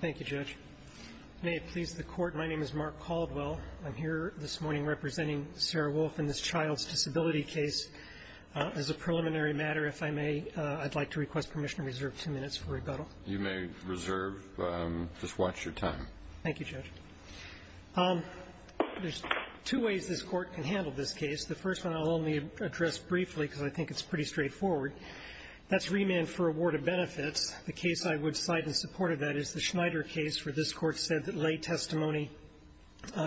Thank you, Judge. May it please the Court, my name is Mark Caldwell. I'm here this morning representing Sarah Wolf in this child's disability case. As a preliminary matter, if I may, I'd like to request permission to reserve two minutes for rebuttal. You may reserve. Just watch your time. Thank you, Judge. There's two ways this Court can handle this case. The first one I'll only address briefly because I think it's pretty straightforward. That's a claimant for a ward of benefits. The case I would cite in support of that is the Schneider case, where this Court said that lay testimony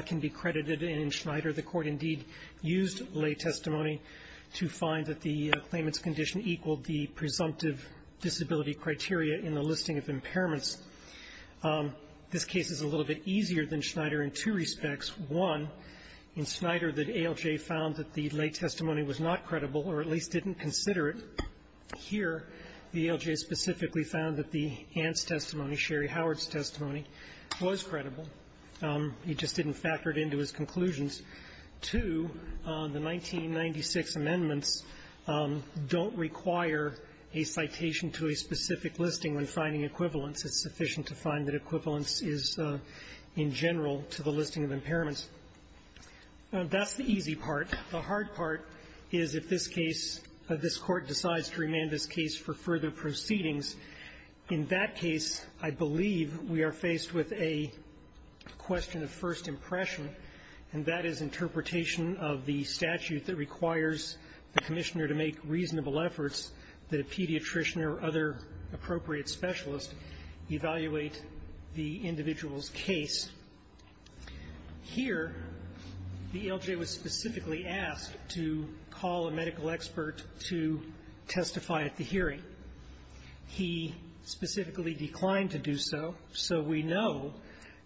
can be credited. And in Schneider, the Court indeed used lay testimony to find that the claimant's condition equaled the presumptive disability criteria in the listing of impairments. This case is a little bit easier than Schneider in two respects. One, in Schneider, the ALJ found that the lay testimony was not credible, or at least didn't consider it. Here, the ALJ specifically found that the aunt's testimony, Sherry Howard's testimony, was credible. He just didn't factor it into his conclusions. Two, the 1996 amendments don't require a citation to a specific listing when finding equivalence. It's sufficient to find that equivalence is, in general, to the listing of impairments. That's the easy part. The hard part is, if this case, this Court decides to remand this case for further proceedings, in that case, I believe we are faced with a question of first impression, and that is interpretation of the statute that requires the Commissioner to make reasonable efforts that a pediatrician or other appropriate specialist evaluate the individual's case. Here, the ALJ was unable to testify at the hearing. He specifically declined to do so. So we know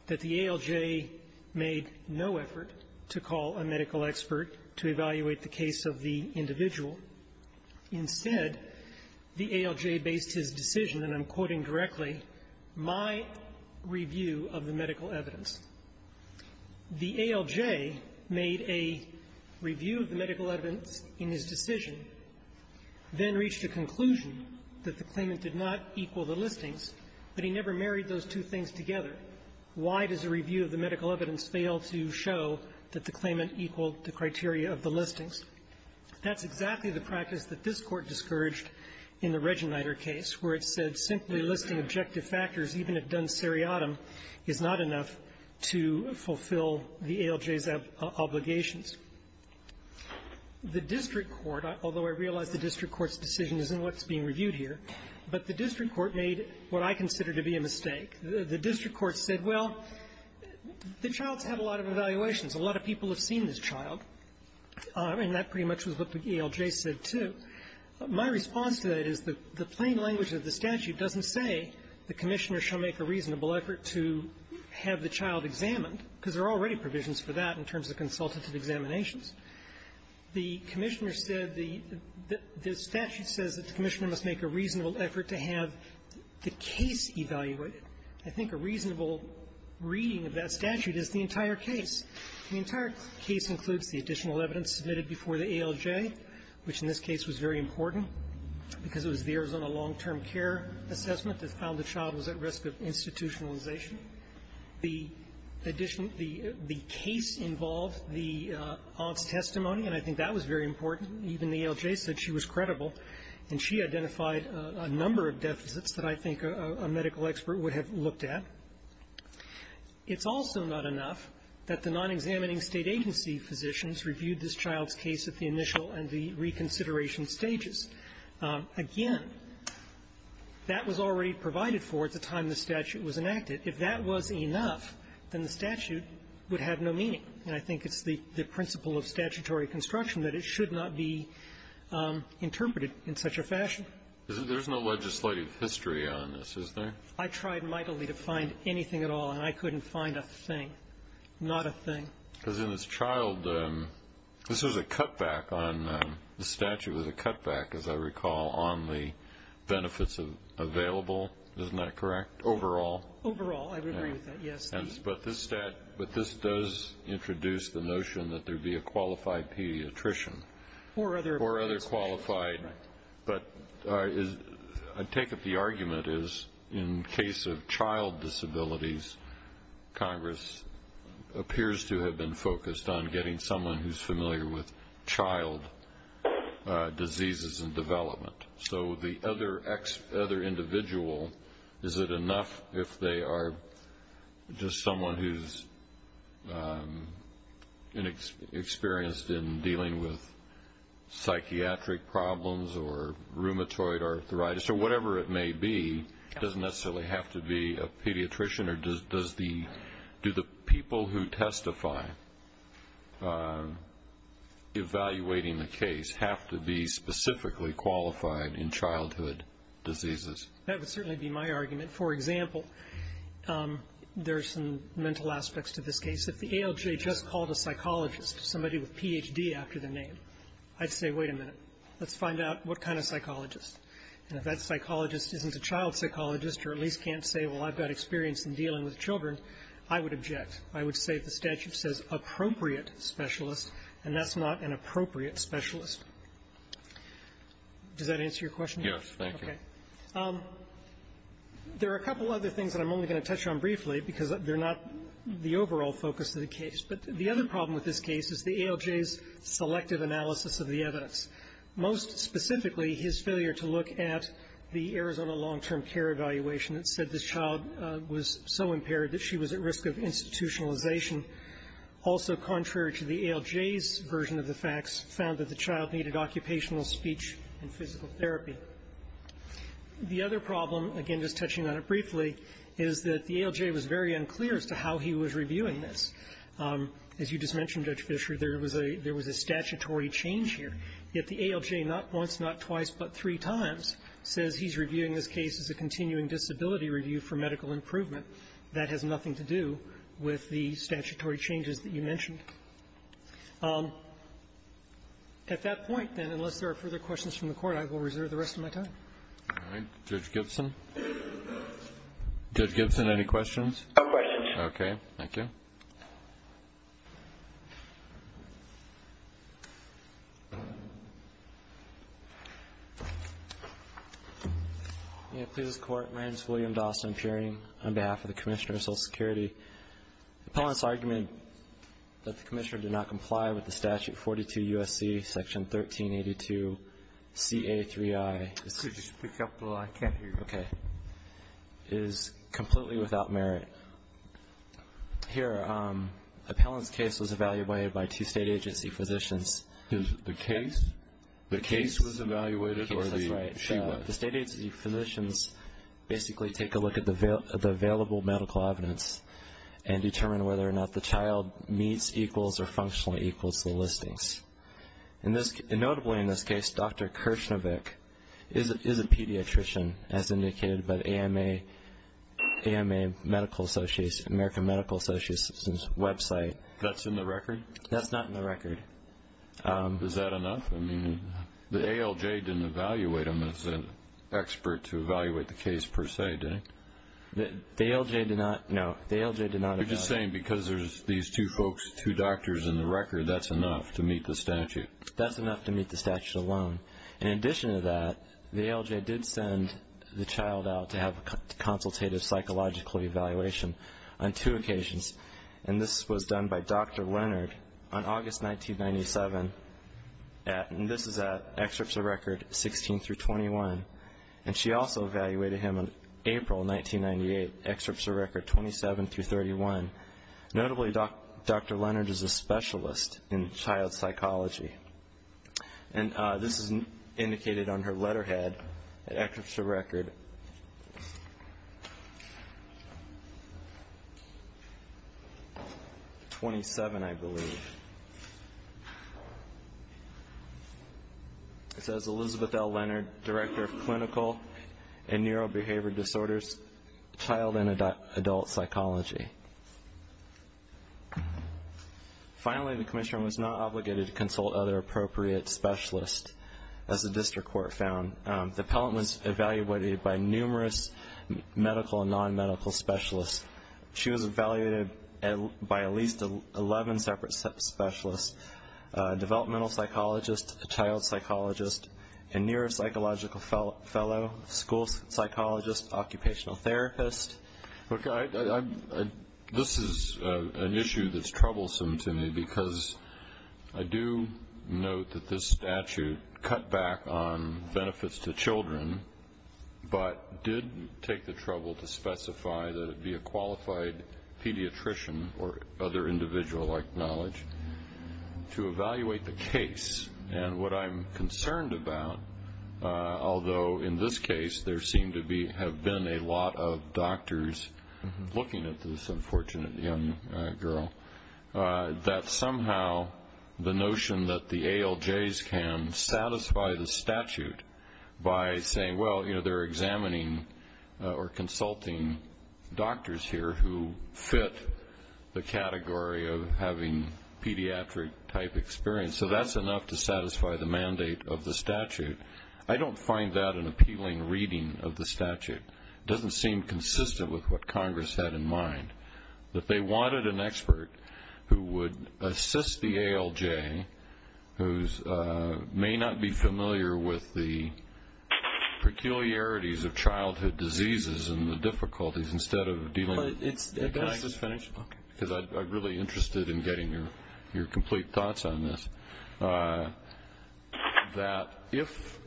that the ALJ made no effort to call a medical expert to evaluate the case of the individual. Instead, the ALJ based his decision, and I'm quoting directly, my review of the medical evidence. The ALJ made a review of the medical evidence in his decision, then reached a conclusion that the claimant did not equal the listings, but he never married those two things together. Why does a review of the medical evidence fail to show that the claimant equaled the criteria of the listings? That's exactly the practice that this Court discouraged in the Regenreiter case, where it said simply listing objective factors, even if done seriatim, is not enough to fulfill the ALJ's obligations. The district court, although I realize the district court's decision isn't what's being reviewed here, but the district court made what I consider to be a mistake. The district court said, well, the child's had a lot of evaluations. A lot of people have seen this child, and that pretty much was what the ALJ said, too. My response to that is the plain language of the statute doesn't say the Commissioner shall make a reasonable effort to have the child examined, because there are already provisions for that in terms of consultative examinations. The Commissioner said the statute says that the Commissioner must make a reasonable effort to have the case evaluated. I think a reasonable reading of that statute is the entire case. The entire case includes the additional evidence submitted before the ALJ, which in this case was very important, because it was the Arizona long-term care assessment that found the child was at risk of institutionalization. The additional the case involved the aunt's testimony, and I think that was very important. Even the ALJ said she was credible, and she identified a number of deficits that I think a medical expert would have looked at. It's also not enough that the non-examining State agency physicians reviewed this child's case at the initial and the reconsideration stages. Again, that was already provided in the statute, provided for at the time the statute was enacted. If that was enough, then the statute would have no meaning. And I think it's the principle of statutory construction that it should not be interpreted in such a fashion. There's no legislative history on this, is there? I tried mightily to find anything at all, and I couldn't find a thing, not a thing. Because in this child, this was a cutback on the statute, was a cutback, as I recall, on the benefits available. Isn't that correct? Overall? Overall, I would agree with that, yes. But this does introduce the notion that there would be a qualified pediatrician. Or other qualified. But I take it the argument is, in case of child disabilities, Congress appears to have been focused on getting someone who's familiar with child diseases and development. So the other individual, is it enough if they are just someone who's inexperienced in dealing with psychiatric problems or rheumatoid arthritis, or whatever it may be, doesn't necessarily have to be a pediatrician? Or do the people who testify, evaluating the case, have to be specifically qualified in childhood diseases? That would certainly be my argument. For example, there's some mental aspects to this case. If the ALJ just called a psychologist, somebody with Ph.D. after their name, I'd say, wait a minute, let's find out what kind of psychologist. And if that psychologist isn't a child psychologist, or at least can't say, well, I've got experience in dealing with children, I would object. I would say if the statute says appropriate specialist, and that's not an appropriate specialist. Does that answer your question? Yes, thank you. Okay. There are a couple other things that I'm only going to touch on briefly because they're not the overall focus of the case. But the other problem with this case is the ALJ's selective analysis of the evidence. Most specifically, his failure to look at the Arizona long-term care evaluation that said this child was so impaired that she was at risk of institutionalization. Also contrary to the ALJ's version of the facts, found that the child needed occupational speech and physical therapy. The other problem, again, just touching on it briefly, is that the ALJ was very unclear as to how he was reviewing this. As you just mentioned, Judge Fischer, there was a statutory change here. Yet the ALJ not once, not twice, but three times says he's reviewing this case as a continuing disability review for medical improvement. That has nothing to do with the statutory changes that you mentioned. At that point, then, unless there are further questions from the Court, I will reserve the rest of my time. All right. Judge Gibson? Judge Gibson, any questions? No questions. Okay. Thank you. Inclusive Court, my name is William Dawson, appearing on behalf of the Commissioner of Social Security. The appellant's argument that the Commissioner did not comply with the Statute 42 U.S.C. Section 1382 CA3I. Could you speak up a little? I can't hear you. Okay. Is completely without merit. Here, the appellant's case was evaluated by two state agency physicians. The case? The case was evaluated? Yes, that's right. The state agency physicians basically take a look at the available medical evidence and determine whether or not the child meets, equals, or functionally equals the listings. Notably, in this case, Dr. Kirshnevik is a pediatrician, as indicated by the AMA Medical Association, American Medical Association's website. That's in the record? That's not in the record. Is that enough? I mean, the ALJ didn't evaluate him as an expert to evaluate the case, per se, did it? The ALJ did not, no. The ALJ did not. You're just saying because there's these two folks, two doctors in the record, that's enough to meet the statute? That's enough to meet the statute alone. In addition to that, the ALJ did send the child out to have a consultative psychological evaluation on two occasions, and this was done by Dr. Leonard on August 1997, and this is at excerpts of record 16 through 21, and she also evaluated him on April 1998, excerpts of record 27 through 31. Notably, Dr. Leonard is a specialist in child psychology, and this is indicated on her letterhead at excerpts of record 27, I believe. It says, Elizabeth L. Leonard, Director of Clinical and Neurobehavioral Disorders, Child and Adult Psychology. Finally, the commission was not obligated to consult other appropriate specialists, as the district court found. The appellant was evaluated by numerous medical and non-medical specialists. She was evaluated by at least 11 separate specialists, developmental psychologists, child psychologists, a neuropsychological fellow, school psychologists, occupational therapists. This is an issue that's troublesome to me because I do note that this statute cut back on benefits to children, but did take the trouble to specify that it would be a qualified pediatrician or other individual like knowledge to evaluate the case, and what I'm concerned about, although in this case, there seem to be, have been a lot of doctors looking at this unfortunate young girl, that somehow the notion that the ALJs can satisfy the statute by saying, well, you know, they're examining or consulting doctors here who fit the category of having pediatric-type experience. And so that's enough to satisfy the mandate of the statute. I don't find that an appealing reading of the statute. It doesn't seem consistent with what Congress had in mind, that they wanted an expert who would assist the ALJ who may not be familiar with the peculiarities of childhood diseases and the difficulties instead of dealing with... Can I just finish? Okay. Because I'm really interested in getting your complete thoughts on this. That if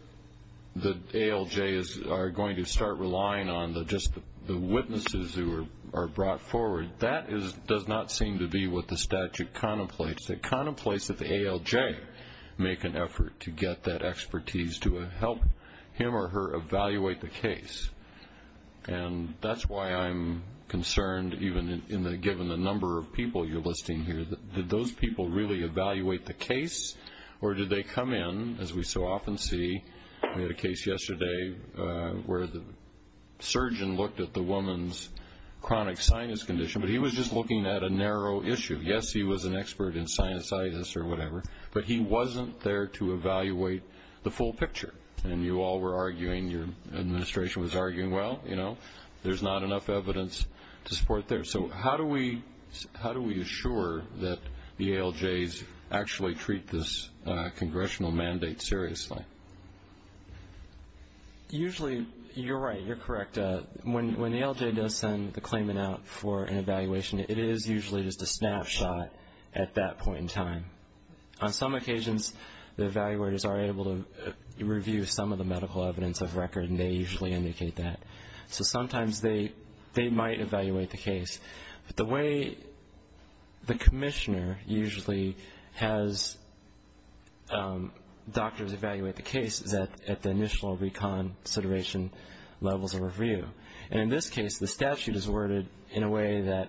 the ALJs are going to start relying on just the witnesses who are brought forward, that does not seem to be what the statute contemplates. It contemplates that the ALJ make an effort to get that expertise to help him or her evaluate the case. And that's why I'm concerned, even given the number of people you're listing here, did those people really evaluate the case? Or did they come in, as we so often see, we had a case yesterday where the surgeon looked at the woman's chronic sinus condition, but he was just looking at a narrow issue. Yes, he was an expert in sinusitis or whatever, but he wasn't there to evaluate the full picture. And you all were arguing, your administration was arguing, well, you know, there's not enough evidence to support that. So how do we assure that the ALJs actually treat this congressional mandate seriously? Usually, you're right, you're correct. When the ALJ does send the claimant out for an evaluation, it is usually just a snapshot at that point in time. On some occasions, the evaluators are able to review some of the medical evidence of record, and they usually indicate that. So sometimes they might evaluate the case. But the way the commissioner usually has doctors evaluate the case is at the initial reconsideration levels of review. And in this case, the statute is worded in a way that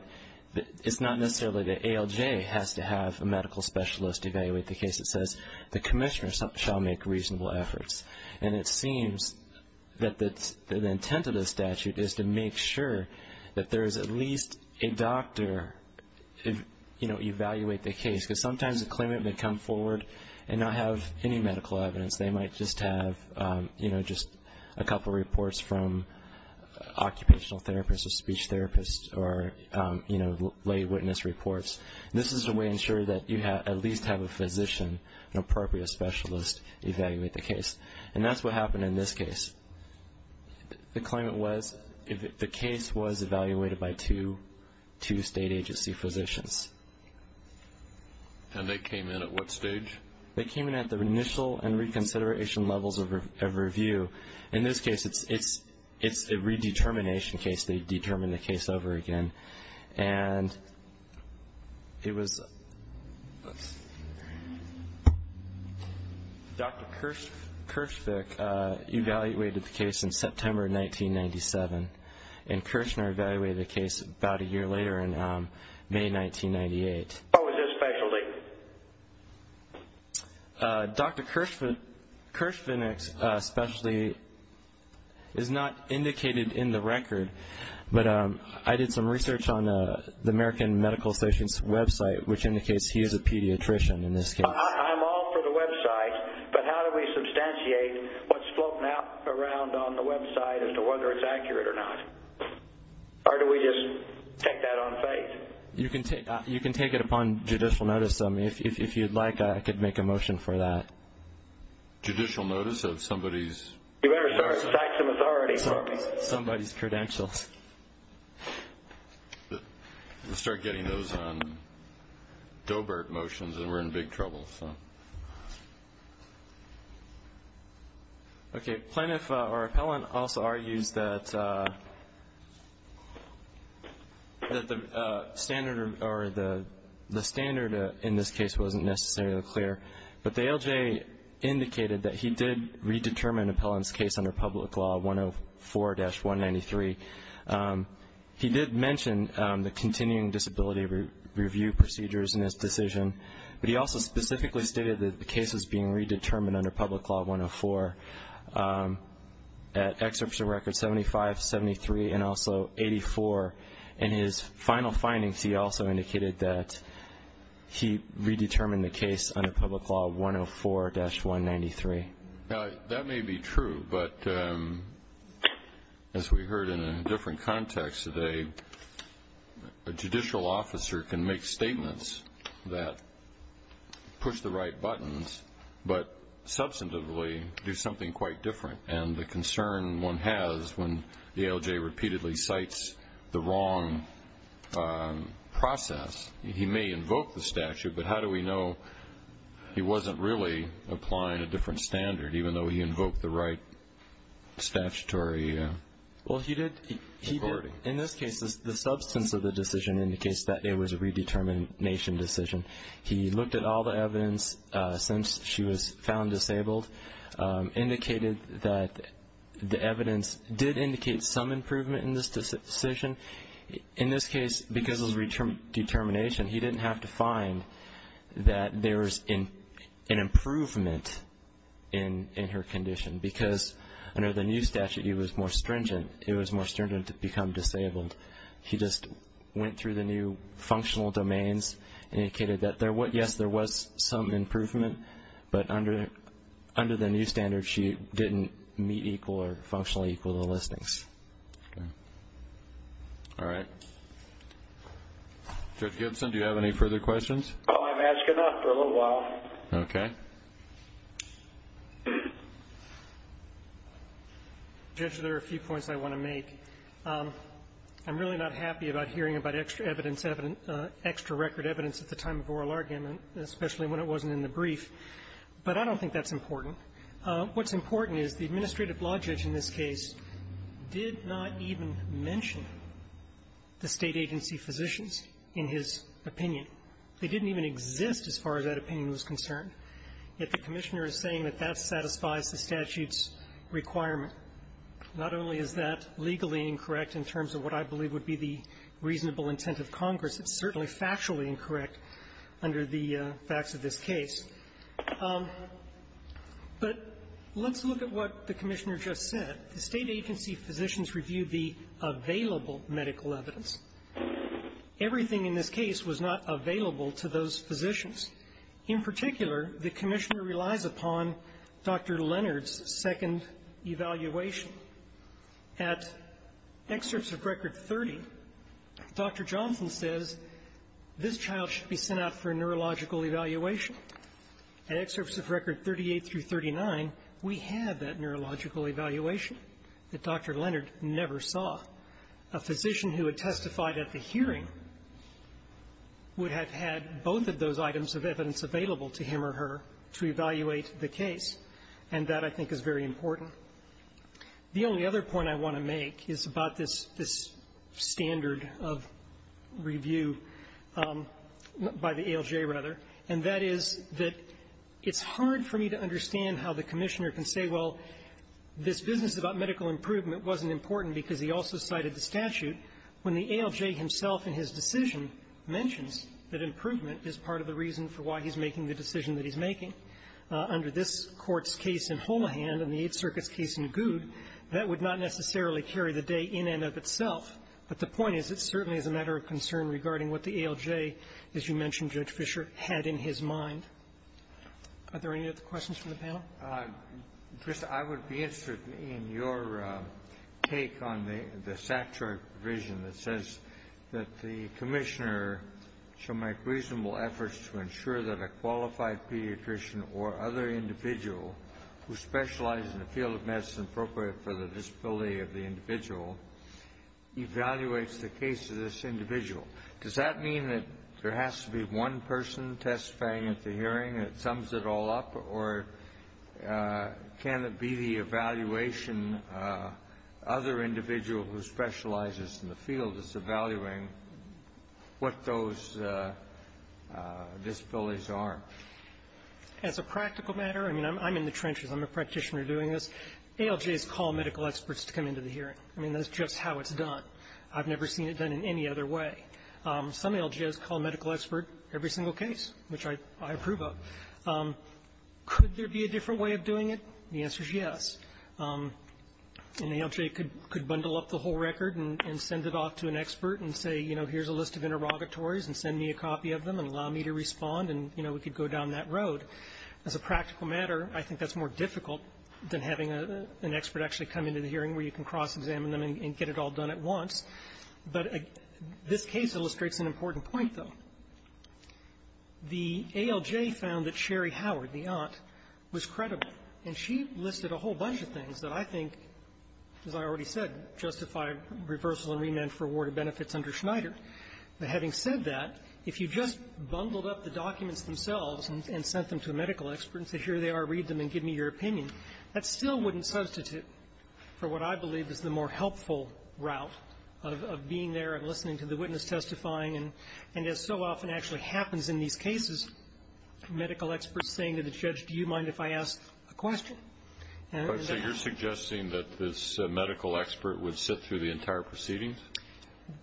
it's not necessarily the ALJ has to have a medical specialist evaluate the case. It says, the commissioner shall make reasonable efforts. And it seems that the intent of the statute is to make sure that there is at least a doctor to evaluate the case, because sometimes a claimant may come forward and not have any medical evidence. They might just have just a couple reports from occupational therapists or speech therapists or lay witness reports. This is a way to ensure that you at least have a physician, an appropriate specialist, evaluate the case. And that's what happened in this case. The claimant was, the case was evaluated by two state agency physicians. And they came in at what stage? They came in at the initial and reconsideration levels of review. In this case, it's a redetermination case. They determine the case over again. And it was Dr. Kirschvick evaluated the case in September 1997. And Kirshner evaluated the case about a year later in May 1998. What was his specialty? Dr. Kirschvick's specialty is not indicated in the record. But I did some research on the American Medical Station's website, which indicates he is a pediatrician in this case. I'm all for the website, but how do we substantiate what's floating around on the website as to whether it's accurate or not? Or do we just take that on faith? You can take it upon judicial notice. If you'd like, I could make a motion for that. Judicial notice of somebody's? You better start citing authority. Somebody's credentials. We'll start getting those on Doebert motions, and we're in big trouble. Okay, plaintiff or appellant also argues that the standard in this case wasn't necessarily clear. But the ALJ indicated that he did redetermine an appellant's case under Public Law 104-193. He did mention the continuing disability review procedures in his decision, but he also specifically stated that the case was being redetermined under Public Law 104 at Excerpt of Record 75, 73, and also 84. In his final findings, he also indicated that he redetermined the case under Public Law 104-193. That may be true, but as we heard in a different context today, a judicial officer can make statements that push the right buttons, but substantively do something quite different. And the concern one has when the ALJ repeatedly cites the wrong process, he may invoke the statute, but how do we know he wasn't really applying a different standard, even though he invoked the right statutory authority? In this case, the substance of the decision indicates that it was a redetermination decision. He looked at all the evidence since she was found disabled, indicated that the evidence did indicate some improvement in this decision. In this case, because it was redetermination, he didn't have to find that there was an improvement in her condition. Because under the new statute, it was more stringent to become disabled. He just went through the new functional domains, indicated that, yes, there was some improvement, but under the new standard, she didn't meet equal or functionally equal to the listings. All right. Judge Gibson, do you have any further questions? Oh, I've been asking that for a little while. Okay. Judge, there are a few points I want to make. I'm really not happy about hearing about extra evidence, extra record evidence at the time of oral argument, especially when it wasn't in the brief, but I don't think that's important. What's important is the administrative law judge in this case did not even mention the State agency physicians in his opinion. They didn't even exist as far as that opinion was concerned. Yet the Commissioner is saying that that satisfies the statute's requirement. Not only is that legally incorrect in terms of what I believe would be the reasonable intent of Congress, it's certainly factually incorrect under the facts of this case. But let's look at what the Commissioner just said. The State agency physicians reviewed the available medical evidence. Everything in this case was not available to those physicians. In particular, the Commissioner relies upon Dr. Leonard's second evaluation. At excerpts of Record 30, Dr. Johnson says this child should be sent out for a neurological evaluation. At excerpts of Record 38 through 39, we had that neurological evaluation that Dr. Leonard never saw. A physician who had testified at the hearing would have had both of those items of evidence available to him or her to evaluate the case, and that I think is very important. The only other point I want to make is about this standard of review by the ALJ, rather, and that is that it's hard for me to understand how the Commissioner can say, well, this business about medical improvement wasn't important because he also cited the statute, when the ALJ himself in his decision mentions that improvement is part of the reason for why he's making the decision that he's making. Under this Court's case in Holahan and the Eighth Circuit's case in Goud, that would not necessarily carry the day in and of itself, but the point is it certainly is a matter of concern regarding what the ALJ, as you mentioned, Judge Fischer, had in his mind. Are there any other questions from the panel? Dr. Kennedy, I would be interested in your take on the statutory provision that says that the Commissioner shall make reasonable efforts to ensure that a qualified pediatrician or other individual who specializes in a field of medicine appropriate for the disability of the individual evaluates the case of this individual. Does that mean that there has to be one person testifying at the hearing that sums it all up, or can it be the evaluation, other individual who specializes in the field is evaluating what those disabilities are? As a practical matter, I mean, I'm in the trenches. I'm a practitioner doing this. ALJs call medical experts to come into the hearing. I mean, that's just how it's done. I've never seen it done in any other way. Some ALJs call a medical expert every single case, which I approve of. Could there be a different way of doing it? The answer is yes. An ALJ could bundle up the whole record and send it off to an expert and say, you know, here's a list of interrogatories, and send me a copy of them and allow me to respond, and, you know, we could go down that road. As a practical matter, I think that's more difficult than having an expert actually come into the hearing where you can cross-examine them and get it all done at once. But this case illustrates an important point, though. The ALJ found that Sherry Howard, the aunt, was credible, and she listed a whole bunch of things that I think, as I already said, justify reversal and remand for awarded benefits under Schneider. But having said that, if you just bundled up the documents themselves and sent them to a medical expert and said, here they are, read them and give me your opinion, that still wouldn't substitute for what I believe is the more helpful route of being there and listening to the witness testifying, and as so often actually happens in these cases, medical experts saying to the judge, do you mind if I ask a question? And that's the way it's done. So you're suggesting that this medical expert would sit through the entire proceedings?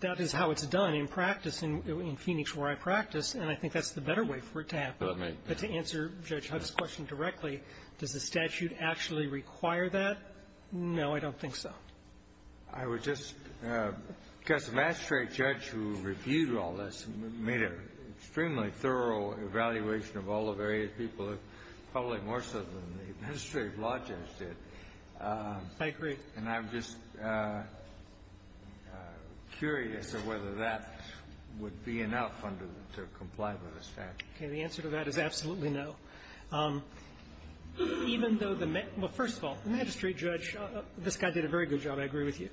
That is how it's done in practice, in Phoenix, where I practice, and I think that's the better way for it to happen. But to answer Judge Huff's question directly, does the statute actually require that? No, I don't think so. I would just guess the magistrate judge who reviewed all this made an extremely thorough evaluation of all the various people, probably more so than the administrative law judge did. I agree. And I'm just curious as to whether that would be enough under the to comply with the statute. Okay. The answer to that is absolutely no. Even though the man – well, first of all, the magistrate judge, this guy did a very good job, I agree with you,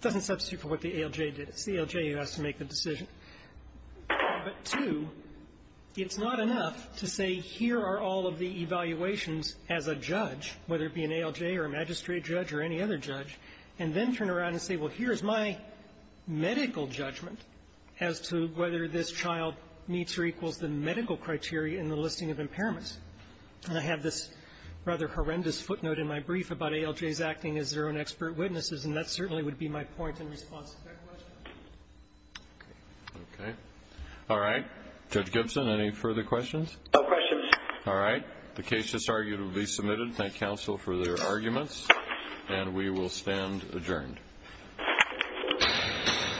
doesn't substitute for what the ALJ did. It's the ALJ who has to make the decision. But two, it's not enough to say here are all of the evaluations as a judge, whether it be an ALJ or a magistrate judge or any other judge, and then turn around and say, well, here's my medical judgment as to whether this child meets or equals the medical criteria in the listing of impairments. And I have this rather horrendous footnote in my brief about ALJs acting as their own expert witnesses, and that certainly would be my point in response to that question. Okay. Okay. All right. Judge Gibson, any further questions? No questions. All right. The case is arguably submitted. Thank counsel for their arguments, and we will stand adjourned. Thank you.